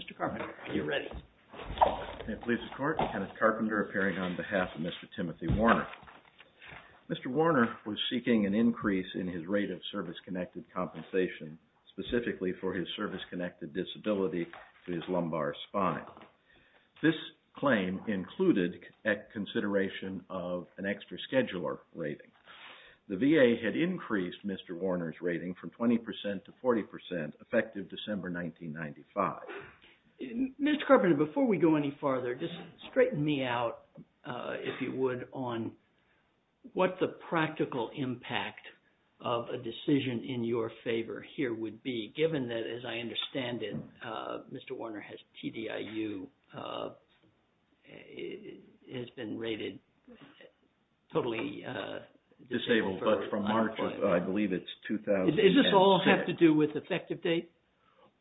Mr. Carpenter, are you ready? May it please the Court, Kenneth Carpenter appearing on behalf of Mr. Timothy Warner. Mr. Warner was seeking an increase in his rate of service-connected compensation, specifically for his service-connected disability to his lumbar spine. This claim included consideration of an extra scheduler rating. The VA had increased Mr. Warner's rating from 20% to 40%, effective December 1995. Mr. Carpenter, before we go any farther, just straighten me out, if you would, on what the practical impact of a decision in your favor here would be, Is this all have to do with effective date?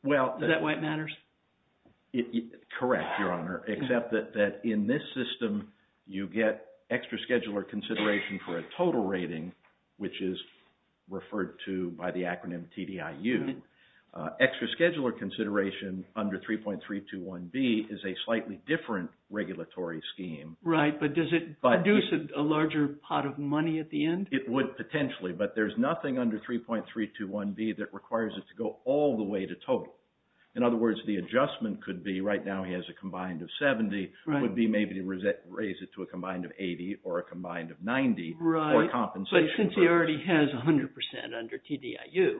Is that why it matters? Correct, Your Honor, except that in this system you get extra scheduler consideration for a total rating, which is referred to by the acronym TDIU. Extra scheduler consideration under 3.321B is a slightly different regulatory scheme. Right, but does it produce a larger pot of money at the end? It would potentially, but there's nothing under 3.321B that requires it to go all the way to total. In other words, the adjustment could be, right now he has a combined of 70, would be maybe to raise it to a combined of 80 or a combined of 90 for compensation. Right, but since he already has 100% under TDIU.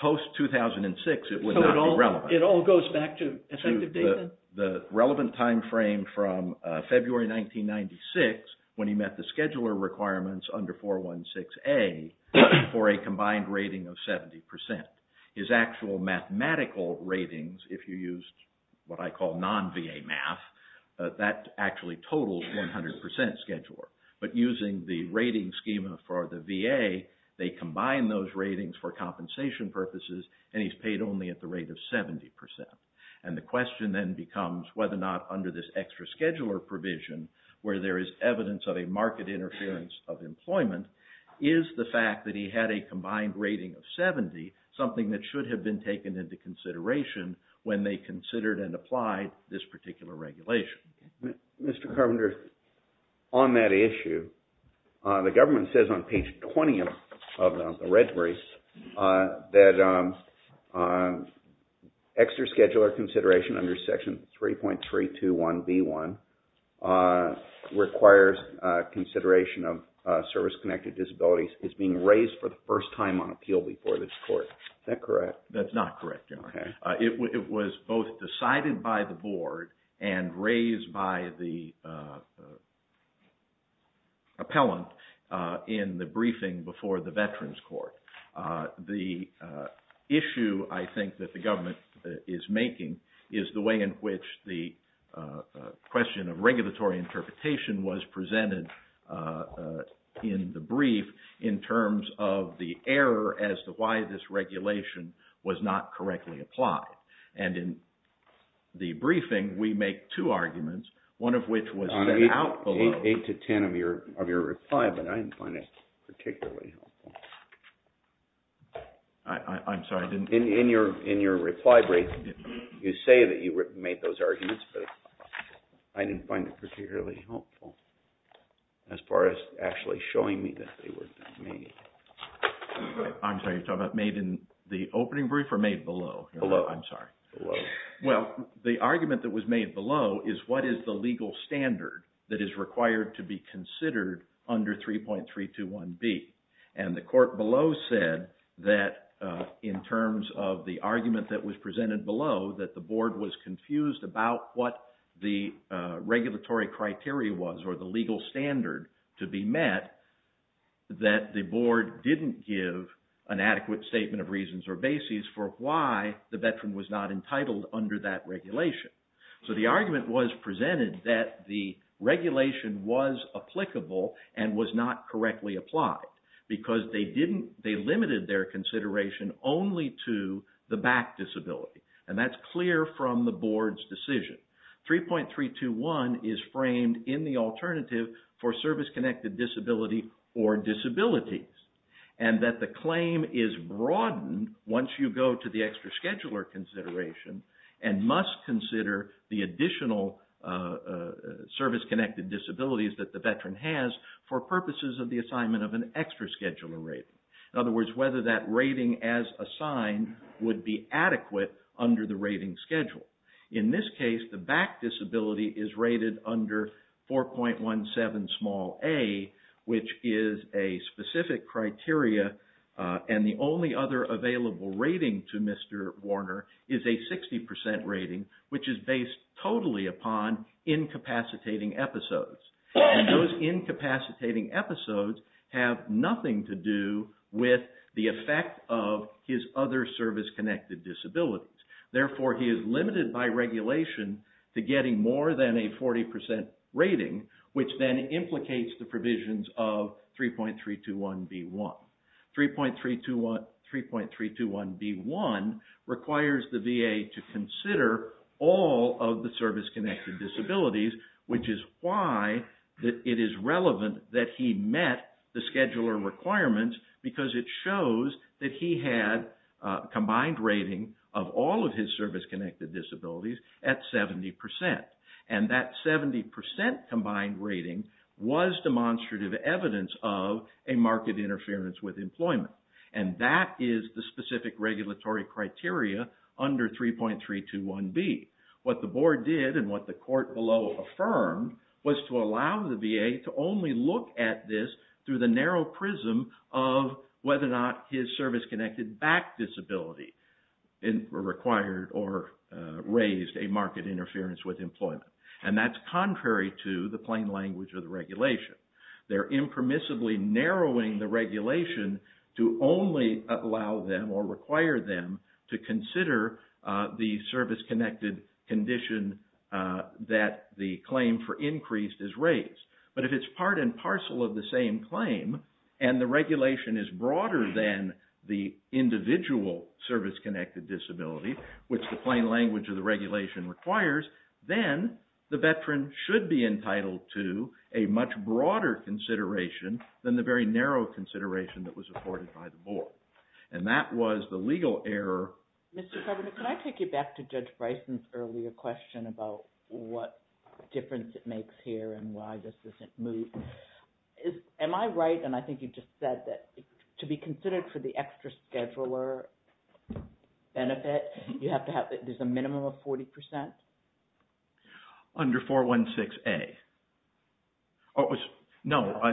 Post 2006, it would not be relevant. It all goes back to effective date then? The relevant timeframe from February 1996 when he met the scheduler requirements under 416A for a combined rating of 70%. His actual mathematical ratings, if you used what I call non-VA math, that actually totals 100% scheduler. But using the rating schema for the VA, they combine those ratings for compensation purposes and he's paid only at the rate of 70%. And the question then becomes whether or not under this extra scheduler provision, where there is evidence of a market interference of employment, is the fact that he had a combined rating of 70 something that should have been taken into consideration when they considered and applied this particular regulation. Mr. Carpenter, on that issue, the government says on page 20 of the red briefs that extra scheduler consideration under section 3.321B1 requires consideration of service-connected disabilities. It's being raised for the first time on appeal before this court. Is that correct? That's not correct. It was both decided by the board and raised by the appellant in the briefing before the Veterans Court. The issue I think that the government is making is the way in which the in terms of the error as to why this regulation was not correctly applied. And in the briefing, we make two arguments, one of which was eight to ten of your reply, but I didn't find it particularly helpful. I'm sorry, in your reply brief, you say that you made those arguments, but I didn't find it particularly helpful as far as actually showing me that they were made. I'm sorry, you're talking about made in the opening brief or made below? Below. I'm sorry. Well, the argument that was made below is what is the legal standard that is required to be considered under 3.321B. And the court below said that in terms of the argument that was presented below that the board was confused about what the regulatory criteria was or the legal standard to be met, that the board didn't give an adequate statement of reasons or bases for why the veteran was not entitled under that regulation. So the argument was presented that the regulation was applicable and was not correctly applied because they didn't, they limited their consideration only to the back disability. And that's clear from the board's decision. 3.321 is framed in the alternative for service-connected disability or disabilities. And that the claim is broadened once you go to the extra scheduler consideration and must consider the additional service-connected disabilities that the veteran has for purposes of the assignment of an extra scheduler rating. In other words, whether that rating as assigned would be adequate under the rating schedule. In this case, the back disability is rated under 4.17a which is a specific criteria and the only other available rating to Mr. Warner is a 60% rating which is based totally upon incapacitating episodes. And those incapacitating episodes have nothing to do with the effect of his other service-connected disabilities. Therefore, he is limited by regulation to getting more than a 40% rating which then implicates the provisions of 3.321b1. 3.321b1 requires the VA to consider all of the service-connected disabilities which is why it is relevant that he met the scheduler requirements because it shows that he had a combined rating of all of his service-connected disabilities at 70%. And that 70% combined rating was demonstrative evidence of a market interference with employment. And that is the specific regulatory criteria under 3.321b. What the board did and what the court below affirmed was to allow the VA to only look at this through the narrow prism of whether or not his service-connected back disability required or raised a market interference with employment. And that's contrary to the plain language of the regulation. They're impermissibly narrowing the regulation to only allow them or require them to consider the service-connected condition that the claim for increased is raised. But if it's part and parcel of the same claim and the regulation is the plain language of the regulation requires, then the veteran should be entitled to a much broader consideration than the very narrow consideration that was afforded by the board. And that was the legal error. Can I take you back to Judge Bryson's earlier question about what difference it makes here and why this isn't moved? Am I right and I think you just said that to be considered for the extra scheduler benefit, there's a minimum of 40%? Under 416A. No, I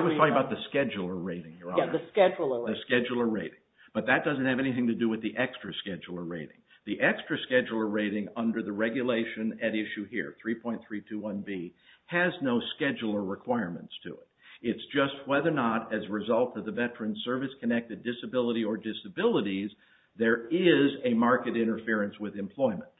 was talking about the scheduler rating. The scheduler rating. But that doesn't have anything to do with the extra scheduler rating. The extra scheduler rating under the regulation at issue here, 3.321b, has no scheduler requirements to it. It's just whether or not as a result of the veteran's service-connected disability or disabilities, there is a market interference with employment.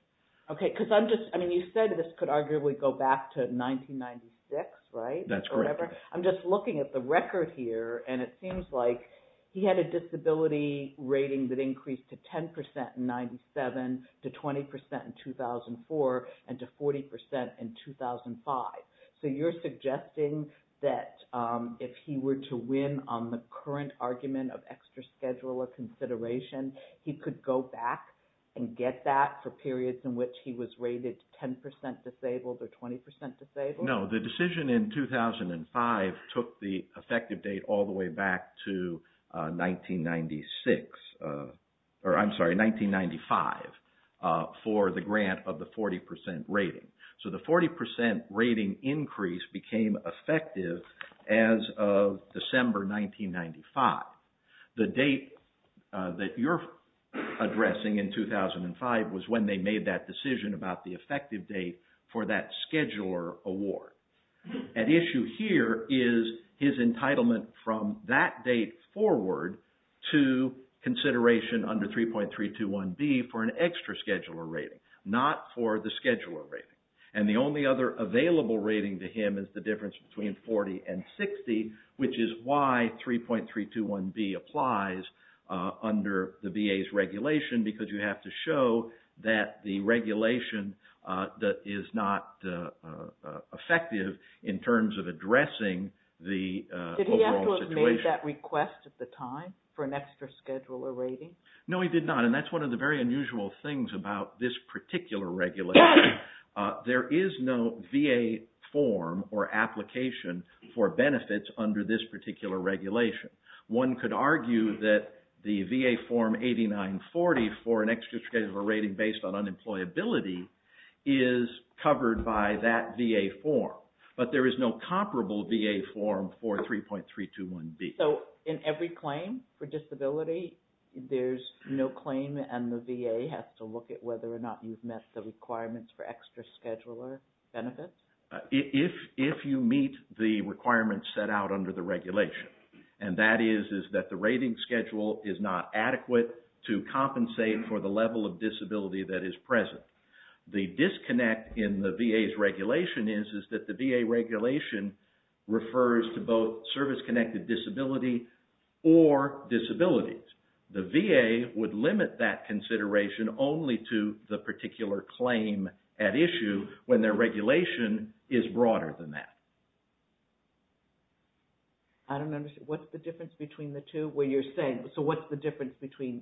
Okay, because you said this could arguably go back to 1996, right? That's correct. I'm just looking at the record here and it seems like he had a disability rating that increased to 10% in 97, to 20% in 2004, and to 40% in 2005. So you're suggesting that if he were to win on the current argument of extra scheduler consideration, he could go back and get that for periods in which he was rated 10% disabled or 20% disabled? No, the decision in 2005 took the effective date all the way back to 1996, or I'm sorry, 1995, for the grant of the 40% rating. So the 40% rating increase became effective as of December 1995. The date that you're addressing in 2005 was when they made that decision about the effective date for that scheduler award. At issue here is his entitlement from that date forward to consideration under 3.321B for an extra scheduler rating, not for the scheduler rating. And the only other available rating to him is the difference between 40 and 60, which is why 3.321B applies under the VA's regulation, because you have to show that the regulation is not effective in terms of addressing the overall situation. Did he have to have made that request at the time for an extra scheduler rating? No, he did not, and that's one of the very unusual things about this particular regulation. There is no VA form or application for benefits under this particular regulation. One could argue that the VA form 8940 for an extra scheduler rating based on unemployability is covered by that VA form, but there is no comparable VA form for 3.321B. So in every claim for disability, there's no claim and the VA has to look at whether or not you've met the requirements for extra scheduler benefits? If you meet the requirements set out under the regulation, and that is that the rating schedule is not adequate to compensate for the level of disability that is present. The disconnect in the VA's regulation is that the VA regulation refers to both service-connected disability or disabilities. The VA would limit that consideration only to the particular claim at issue when their regulation is broader than that. So what's the difference between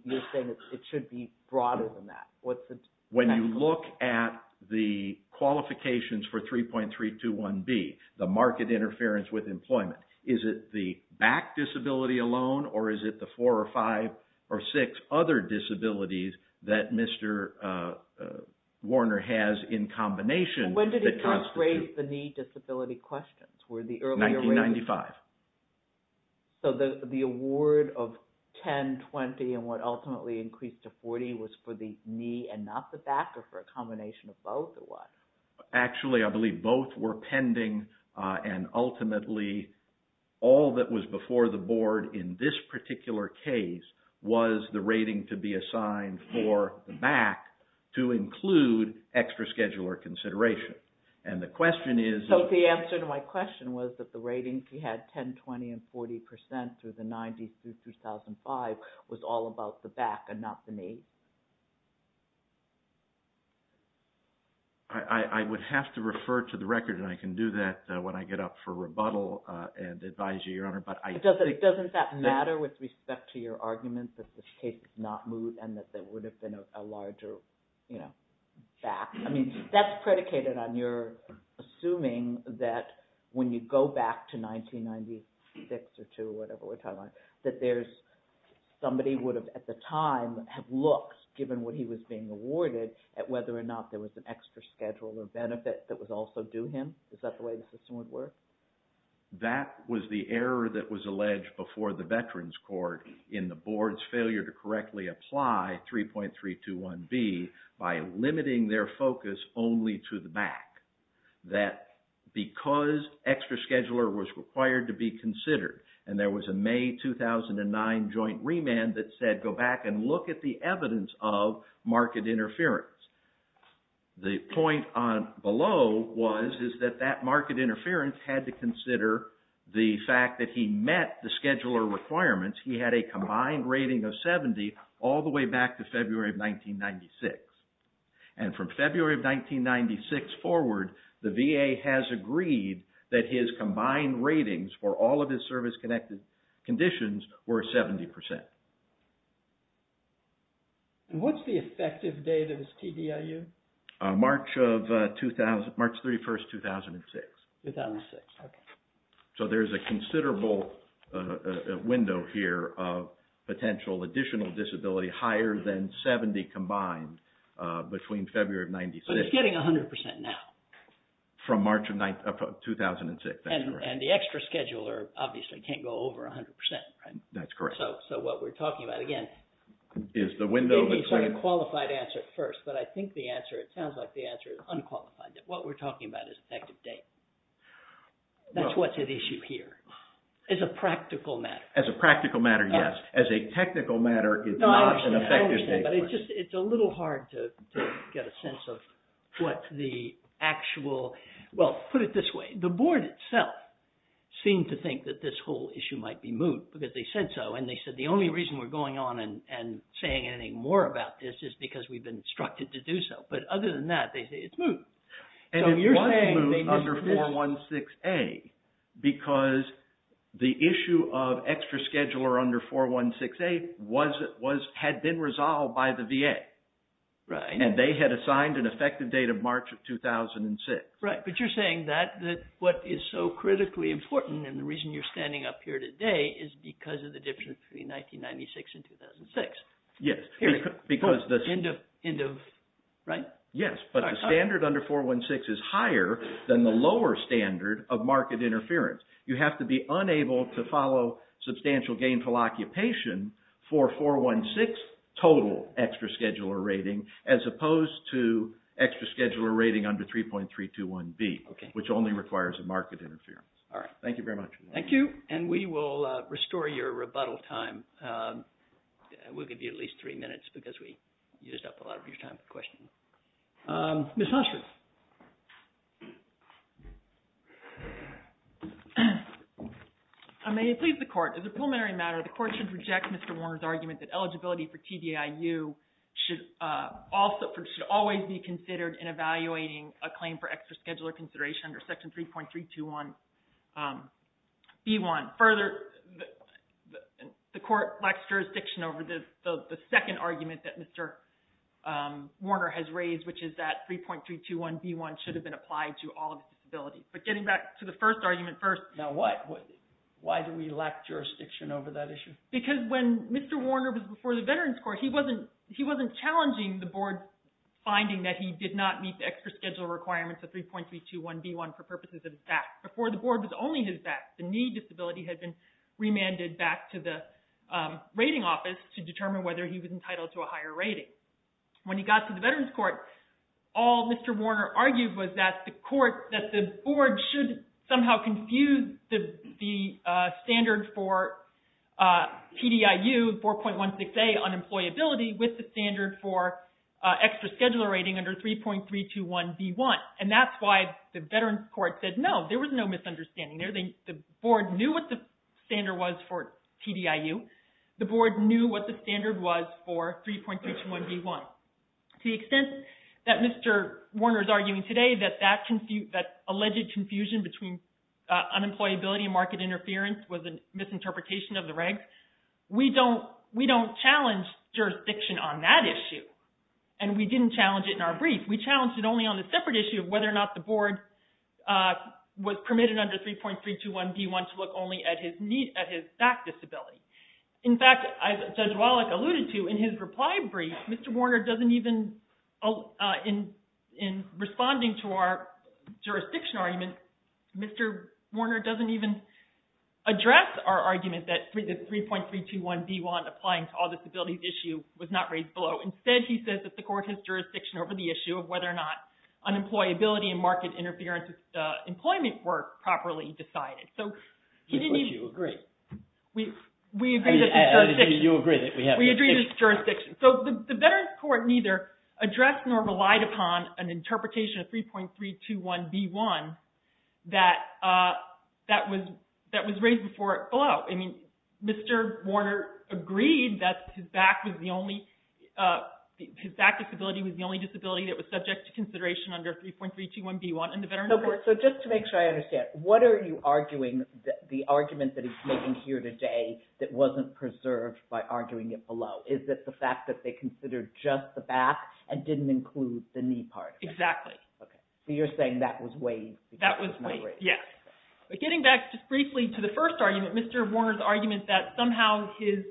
you're saying it should be broader than that? When you look at the qualifications for 3.321B, the market interference with employment, is it the back disability alone or is it the four or five or six other disabilities that Mr. Warner has in combination? When did he first raise the knee disability question? 1995. So the award of 10, 20 and what ultimately increased to 40 was for the knee and not the back or for a combination of both? Actually I believe both were pending and ultimately all that was before the board in this particular case was the rating to be assigned for the back to include extra scheduler consideration. So the answer to my question was that the rating he had 10, 20 and 40% through the 90s through 2005 was all about the back and not the knee? I would have to refer to the record and I can do that when I get up for rebuttal and advise you, Your Honor. Doesn't that matter with respect to your argument that this case is not moved and that there would have been a larger back? I mean that's predicated on your assuming that when you go back to 1996 or 2 or whatever we're talking about, that somebody would have at the time have looked given what he was being awarded at whether or not there was an extra scheduler benefit that would also do him? Is that the way the system would work? That was the error that was alleged before the Veterans Court in the board's failure to correctly apply 3.321B by limiting their focus only to the back. That because extra scheduler was required to be considered and there was a May 2009 joint remand that said go back and look at the evidence of market interference. The point below was that that market interference had to consider the fact that he met the scheduler requirements. He had a combined rating of 70 all the way back to February of 2006. He agreed that his combined ratings for all of his service-connected conditions were 70%. And what's the effective date of his TDIU? March 31, 2006. 2006, okay. So there's a considerable window here of potential additional disability higher than 70 combined between February of 96. But it's getting 100% now. From March of 2006, that's correct. And the extra scheduler obviously can't go over 100%, right? That's correct. So what we're talking about, again, is the window. Maybe it's not a qualified answer at first, but I think the answer, it sounds like the answer is unqualified. What we're talking about is effective date. That's what's at issue here. As a practical matter. As a practical matter, it's hard to get a sense of what the actual... Well, put it this way. The board itself seemed to think that this whole issue might be moot because they said so. And they said the only reason we're going on and saying anything more about this is because we've been instructed to do so. But other than that, they say it's moot. And it was moot under 416A because the issue of interference. And they had assigned an effective date of March of 2006. But you're saying that what is so critically important and the reason you're standing up here today is because of the difference between 1996 and 2006. Yes, but the standard under 416 is higher than the lower standard of market interference. You have to be unable to follow substantial gainful occupation for 416 total extra scheduler rating as opposed to extra scheduler rating under 3.321B, which only requires a market interference. Thank you very much. Thank you. And we will restore your rebuttal time. We'll give you at least three minutes because we used up a lot of your time for questions. Ms. Hostris. May it please the Court. As a preliminary matter, the Court should reject Mr. Warner's argument that eligibility for TDIU should always be considered in evaluating a claim for extra scheduler consideration under Section 3.321B1. Further, the Court lacks jurisdiction over the second argument that Mr. Warner has raised, which is that 3.321B1 should have been applied to all of the disabilities. But getting back to the first argument first. Now what? Why do we lack jurisdiction over that issue? Because when Mr. Warner was before the Veterans Court, he wasn't challenging the Board's finding that he did not meet the extra scheduler requirements of 3.321B1 for purposes of VAT. Before, the Board was only his VAT. The need disability had been remanded back to the rating office to determine whether he was entitled to a higher rating. When he got to the Veterans Court, all Mr. Warner argued was that the Board should somehow confuse the standard for TDIU, 4.16A, unemployability, with the standard for extra scheduler rating under 3.321B1. And that's why the Veterans Court said, no, there was no misunderstanding there. The Board knew what the standard was for TDIU. The Board knew what the standard was for 3.321B1. To the extent that Mr. Warner is arguing today that that alleged confusion between unemployability and market interference was a misinterpretation of the regs, we don't challenge jurisdiction on that issue. And we didn't challenge it in our brief. We challenged it only on the separate issue of whether or not the Board was permitted under 3.321B1 to look only at his VAT disability. In fact, as Judge Wallach alluded to in his reply brief, Mr. Warner doesn't even in responding to our jurisdiction argument, Mr. Warner doesn't even address our argument that 3.321B1 applying to all disabilities issue was not raised below. Instead, he says that the court has jurisdiction over the issue of whether or not unemployability and market interference employment work properly decided. So he didn't even... But you agree. We agree that the jurisdiction... You agree that we have jurisdiction. We agree that the jurisdiction... So the Veterans Court neither addressed nor relied upon an interpretation of 3.321B1 that was raised before below. I mean, Mr. Warner agreed that his VAT disability was the only disability that was subject to consideration under 3.321B1 in the Veterans Court. So just to make sure I understand, what are you arguing, the argument that he's making here today that wasn't preserved by arguing it below? Is it the fact that they considered just the back and didn't include the knee part? Exactly. Okay. So you're saying that was waived. That was waived, yes. But getting back just briefly to the first argument, Mr. Warner's argument that somehow his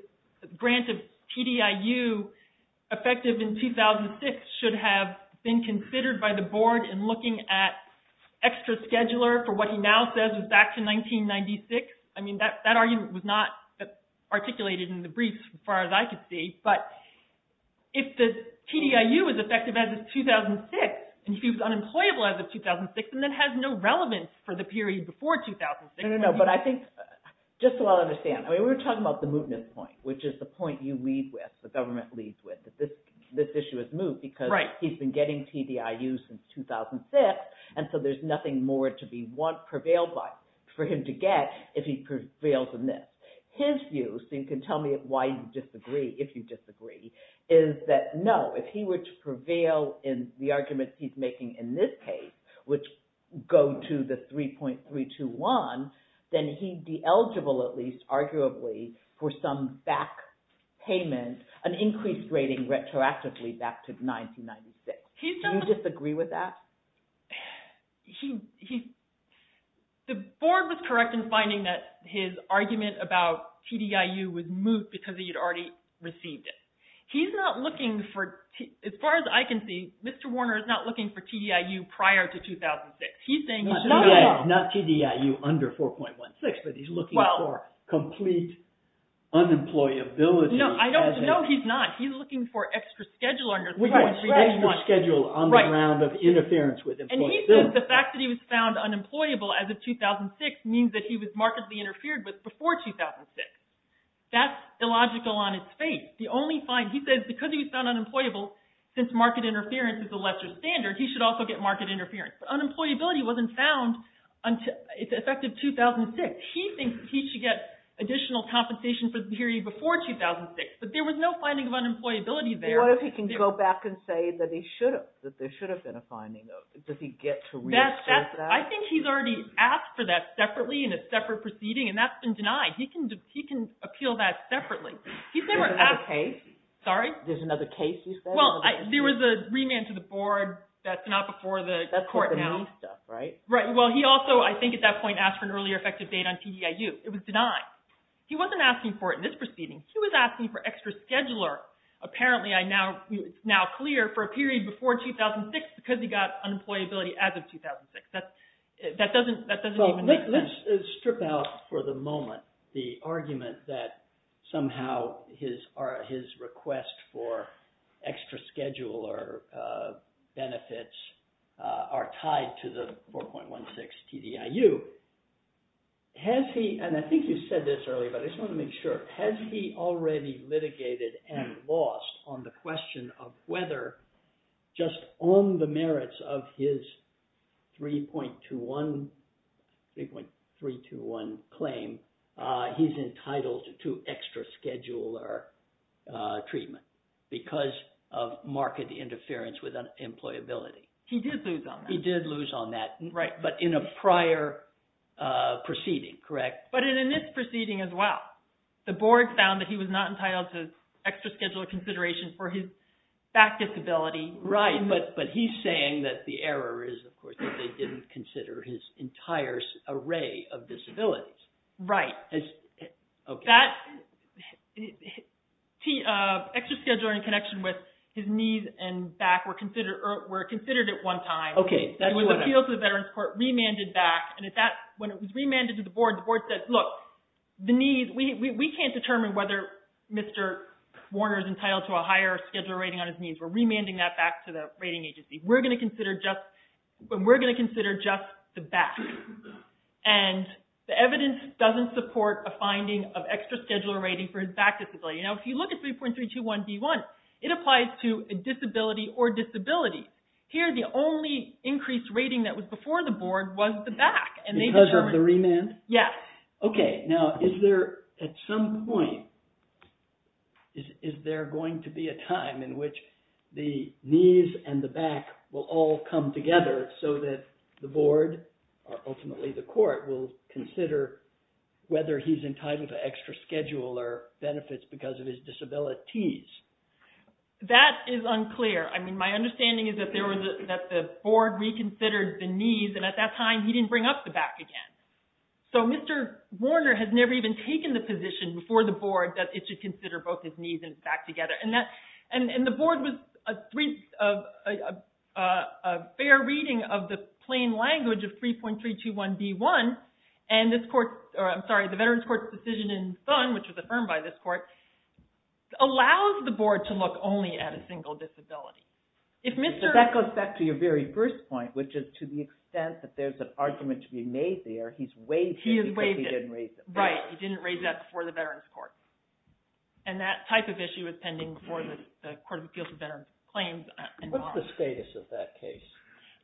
grant of TDIU effective in 2006 should have been considered by the board in looking at extra scheduler for what he now says is back to 1996. I mean, that argument was not articulated in the briefs as far as I could see. But if the TDIU is effective as of 2006 and he was unemployable as of 2006 and then has no relevance for the period before 2006. No, no, no. But I think, just so I understand, we're talking about the mootness point, which is the point you lead with, the government leads with, that this issue is moot because he's been getting TDIU since 2006. And so there's nothing more to be prevailed by for him to get if he prevails in this. His view, so you can tell me why you disagree, if you disagree, is that no, if he were to prevail in the arguments he's making in this case, which go to the 3.321, then he'd be eligible, at least arguably, for some back payment, an increased rating retroactively back to 1996. Do you disagree with that? The board was correct in receiving it. He's not looking for, as far as I can see, Mr. Warner is not looking for TDIU prior to 2006. He's saying he's not at all. Not TDIU under 4.16, but he's looking for complete unemployability. No, he's not. He's looking for extra schedule under 3.321. And he says the fact that he was found unemployable as of 2006 means that he was markedly interfered with before 2006. That's illogical on its face. He says because he was found unemployable, since market interference is a lesser standard, he should also get market interference. But unemployability wasn't found until, effective 2006. He thinks he should get additional compensation for the period before 2006. But there was no finding of unemployability there. What if he can go back and say that there should have been a finding? Does he get to reassess that? I think he's already asked for that separately in a separate proceeding, and that's been denied. He can appeal that separately. There's another case? Sorry? There's another case you said? Well, there was a remand to the board. That's not before the court now. That's for the new stuff, right? Right. Well, he also, I think at that point, asked for an earlier effective date on TDIU. It was denied. He wasn't asking for it in this proceeding. He was asking for extra scheduler. Apparently, it's now clear for a period before 2006 because he got unemployability as of 2006. That doesn't even make sense. Let's strip out for the moment the argument that somehow his request for extra scheduler benefits are tied to the 4.16 TDIU. And I think you said this earlier, but I just want to make sure. Has he already litigated and lost on the question of whether just on the merits of his 3.321 claim, he's entitled to extra scheduler treatment because of market interference with employability? He did lose on that. He did lose on that, but in a prior proceeding, correct? But in this proceeding as well. The board found that he was not entitled to extra scheduler consideration for his back disability. Right, but he's saying that the error is, of course, that they didn't consider his entire array of disabilities. Right. Extra scheduler in connection with his knees and back were considered at one time. Okay, that's what happened. It was appealed to the Veterans Court, remanded back, and when it was remanded to the board, the board said, look, we can't determine whether Mr. Warner is entitled to a higher scheduler rating on his knees. We're remanding that back to the rating agency. We're going to consider just the back. And the evidence doesn't support a finding of extra scheduler rating for his back disability. Now, if you look at 3.321B1, it applies to a disability or disability. Here, the only increased rating that was before the board was the back. Because of the remand? Yes. Okay. Now, is there, at some point, is there going to be a time in which the knees and the back will all come together so that the board, or ultimately the court, will consider whether he's entitled to extra scheduler benefits because of his disabilities? That is unclear. I mean, my understanding is that the board reconsidered the knees, and at that time, he didn't bring up the back again. So Mr. Warner has never even taken the position before the board that it should consider both his knees and his back together. And the board was a fair reading of the plain language of 3.321B1. And this court, or I'm sorry, the Veterans Court's decision in Thun, which was affirmed by this court, allows the board to look only at a single disability. But that goes back to your very first point, which is to the extent that there's an argument to be made there, he's waived it because he didn't raise it. Right. He didn't raise that before the Veterans Court. And that type of issue is pending before the Court of Appeals for Veterans Claims. What's the status of that case?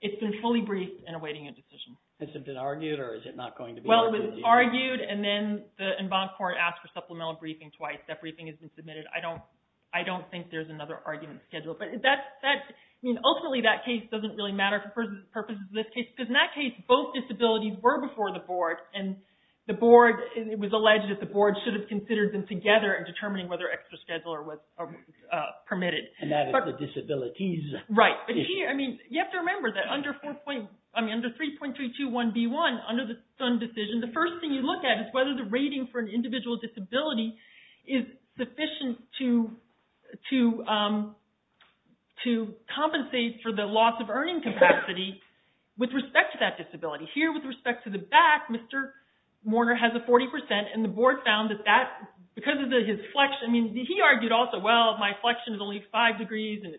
It's been fully briefed and awaiting a decision. Has it been argued, or is it not going to be argued? Well, it was argued, and then the en banc court asked for supplemental briefing twice. That briefing has been submitted. I don't think there's another argument scheduled. Ultimately, that case doesn't really matter for purposes of this case, because in that case, both disabilities were before the board, and it was alleged that the board should have considered them together in determining whether extra scheduler was permitted. And that is the disabilities issue. Right. You have to remember that under 3.321B1, under the Thun decision, the first thing you look at is whether the rating for an individual disability is sufficient to compensate for the loss of earning capacity with respect to that disability. Here, with respect to the back, Mr. Warner has a 40%, and the board found that that, because of his flexion, I mean, he argued also, well, my flexion is only five degrees, and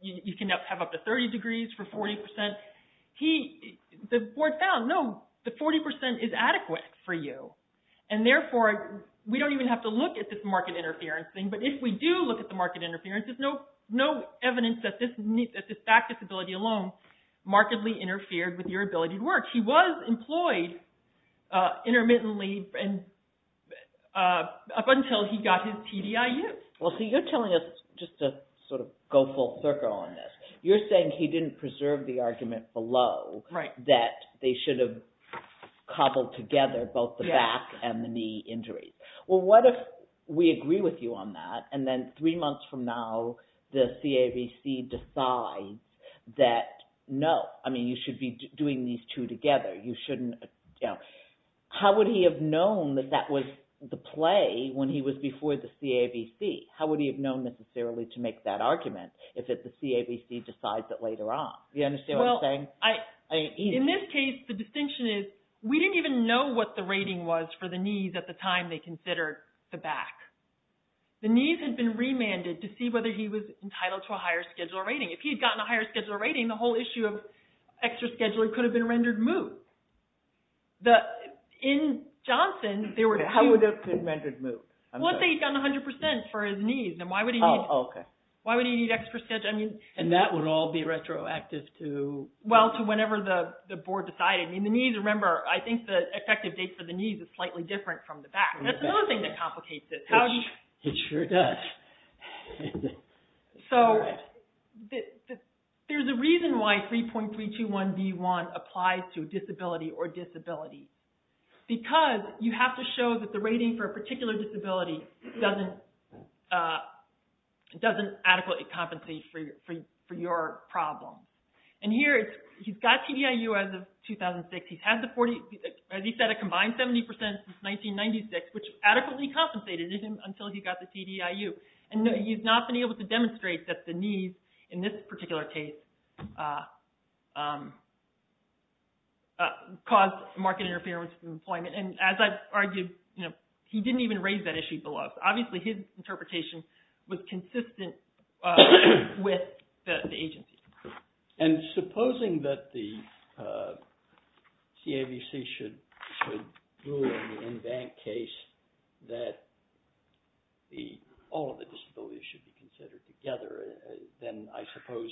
you can have up to 30 degrees for 40%. The board found, no, the 40% is adequate for you, and therefore, we don't even have to look at this market interference thing, but if we do look at the market interference, there's no evidence that this back disability alone markedly interfered with your ability to work. He was employed intermittently up until he got his TDIU. Well, see, you're telling us, just to sort of go full circle on this, you're saying he didn't preserve the argument below that they should have cobbled together both the back and the knee injuries. Well, what if we agree with you on that, and then three months from now the CAVC decides that no, I mean, you should be doing these two together. How would he have known that that was the play when he was before the CAVC? How would he have known necessarily to make that argument if the CAVC decides that later on? Do you understand what I'm saying? In this case, the distinction is we didn't even know what the rating was for the knees at the time they considered the back. The knees had been remanded to see whether he was entitled to a higher schedule rating. If he had gotten a higher schedule rating, the whole issue of extra scheduling could have been rendered moot. In Johnson, there were two – How would that have been rendered moot? Well, if he had gotten 100% for his knees, then why would he need – Oh, okay. Why would he need extra – And that would all be retroactive to – Well, to whenever the board decided. I mean, the knees, remember, I think the effective date for the knees is slightly different from the back. That's another thing that complicates it. It sure does. So there's a reason why 3.321B1 applies to disability or disability because you have to show that the rating for a particular disability doesn't adequately compensate for your problem. And here, he's got TDIU as of 2006. He's had the 40 – As he said, a combined 70% since 1996, which adequately compensated him until he got the TDIU. And he's not been able to demonstrate that the knees, in this particular case, caused market interference in employment. And as I've argued, he didn't even raise that issue to the law. Obviously, his interpretation was consistent with the agency. And supposing that the CAVC should rule in the in-bank case that all of the disabilities should be considered together, then I suppose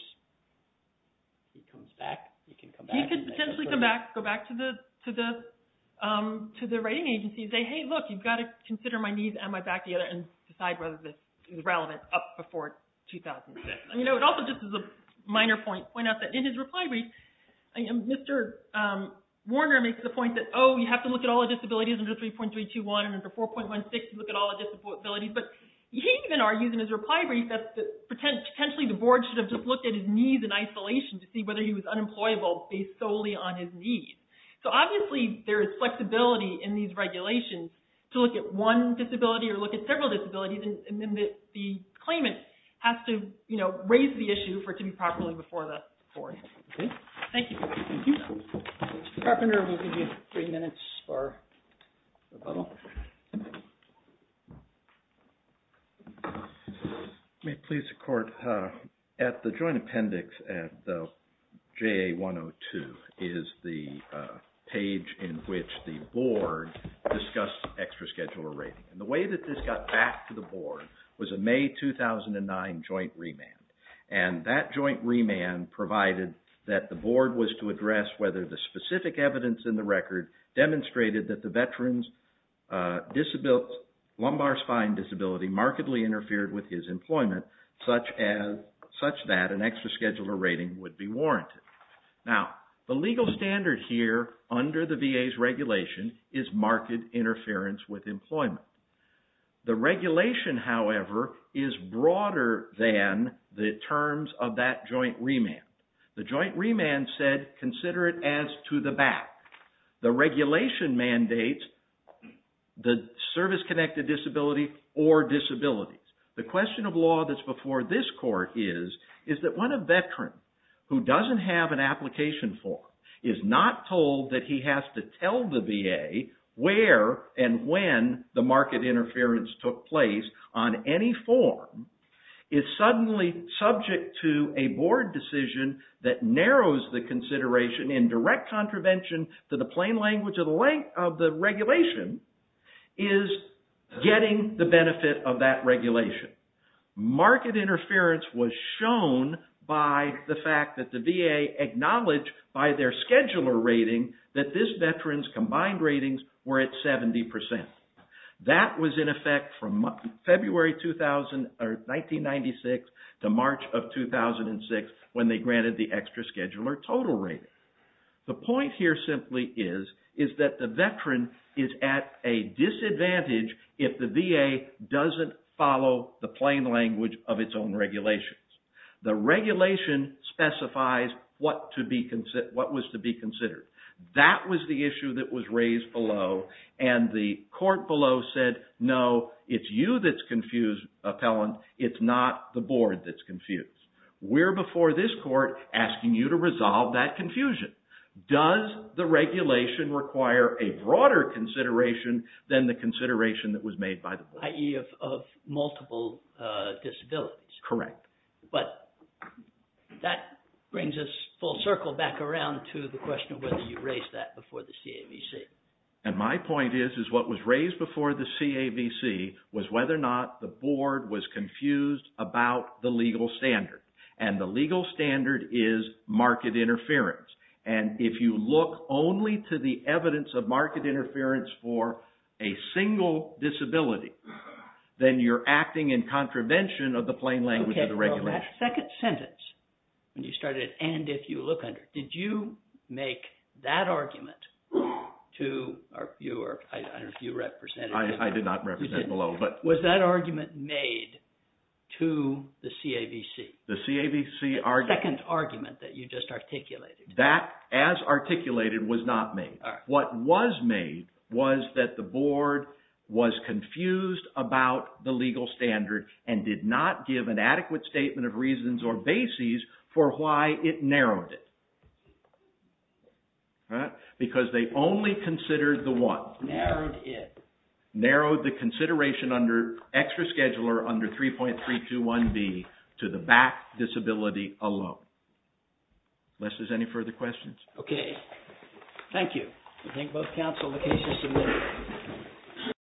he comes back? He could potentially come back, go back to the rating agency and say, hey, look, you've got to consider my knees and my back together and decide whether this is relevant up before 2006. It also just is a minor point to point out that in his reply brief, Mr. Warner makes the point that, oh, you have to look at all the disabilities under 3.321 and under 4.16 to look at all the disabilities. But he even argues in his reply brief that potentially the board should have just looked at his knees in isolation to see whether he was unemployable based solely on his knees. So obviously, there is flexibility in these regulations to look at one disability or look at several disabilities, and then the claimant has to raise the issue for it to be properly before the board. Thank you. Thank you. Mr. Carpenter, we'll give you three minutes for rebuttal. May it please the Court. At the joint appendix at the JA-102 is the page in which the board discussed extra scheduler rating. And the way that this got back to the board was a May 2009 joint remand. And that joint remand provided that the board was to address whether the specific evidence in the record demonstrated that the veteran's lumbar spine disability markedly interfered with his employment, such that an extra scheduler rating would be warranted. Now, the legal standard here under the VA's regulation is marked interference with employment. The regulation, however, is broader than the terms of that joint remand. The joint remand said, consider it as to the back. The regulation mandates the service-connected disability or disabilities. The question of law that's before this Court is, is that when a veteran who doesn't have an application form is not told that he has to tell the VA where and when the market interference took place on any form, is suddenly subject to a board decision that narrows the consideration in direct contravention to the plain language of the regulation, is getting the benefit of that regulation. Market interference was shown by the fact that the VA acknowledged by their scheduler rating that this veteran's combined ratings were at 70%. That was in effect from February 1996 to March of 2006 when they granted the extra scheduler total rating. The point here simply is that the veteran is at a disadvantage if the VA doesn't follow the plain language of its own regulations. The regulation specifies what was to be considered. That was the issue that was raised below, and the Court below said, no, it's you that's confused, appellant. It's not the board that's confused. We're before this Court asking you to resolve that confusion. Does the regulation require a broader consideration than the consideration that was made by the board? I.e. of multiple disabilities. Correct. But that brings us full circle back around to the question of whether you raised that before the CAVC. And my point is, is what was raised before the CAVC was whether or not the board was confused about the legal standard. And the legal standard is market interference. And if you look only to the evidence of market interference for a single disability, then you're acting in contravention of the plain language of the regulation. Okay, so that second sentence, when you started, and if you look under, did you make that argument to, I don't know if you represented. I did not represent below. Was that argument made to the CAVC? The CAVC argument. The second argument that you just articulated. That, as articulated, was not made. What was made was that the board was confused about the legal standard and did not give an adequate statement of reasons or bases for why it narrowed it. Because they only considered the one. Narrowed it. Narrowed the consideration under extra scheduler under 3.321B to the back disability alone. Unless there's any further questions. Okay, thank you. I think both counsel, the case is submitted.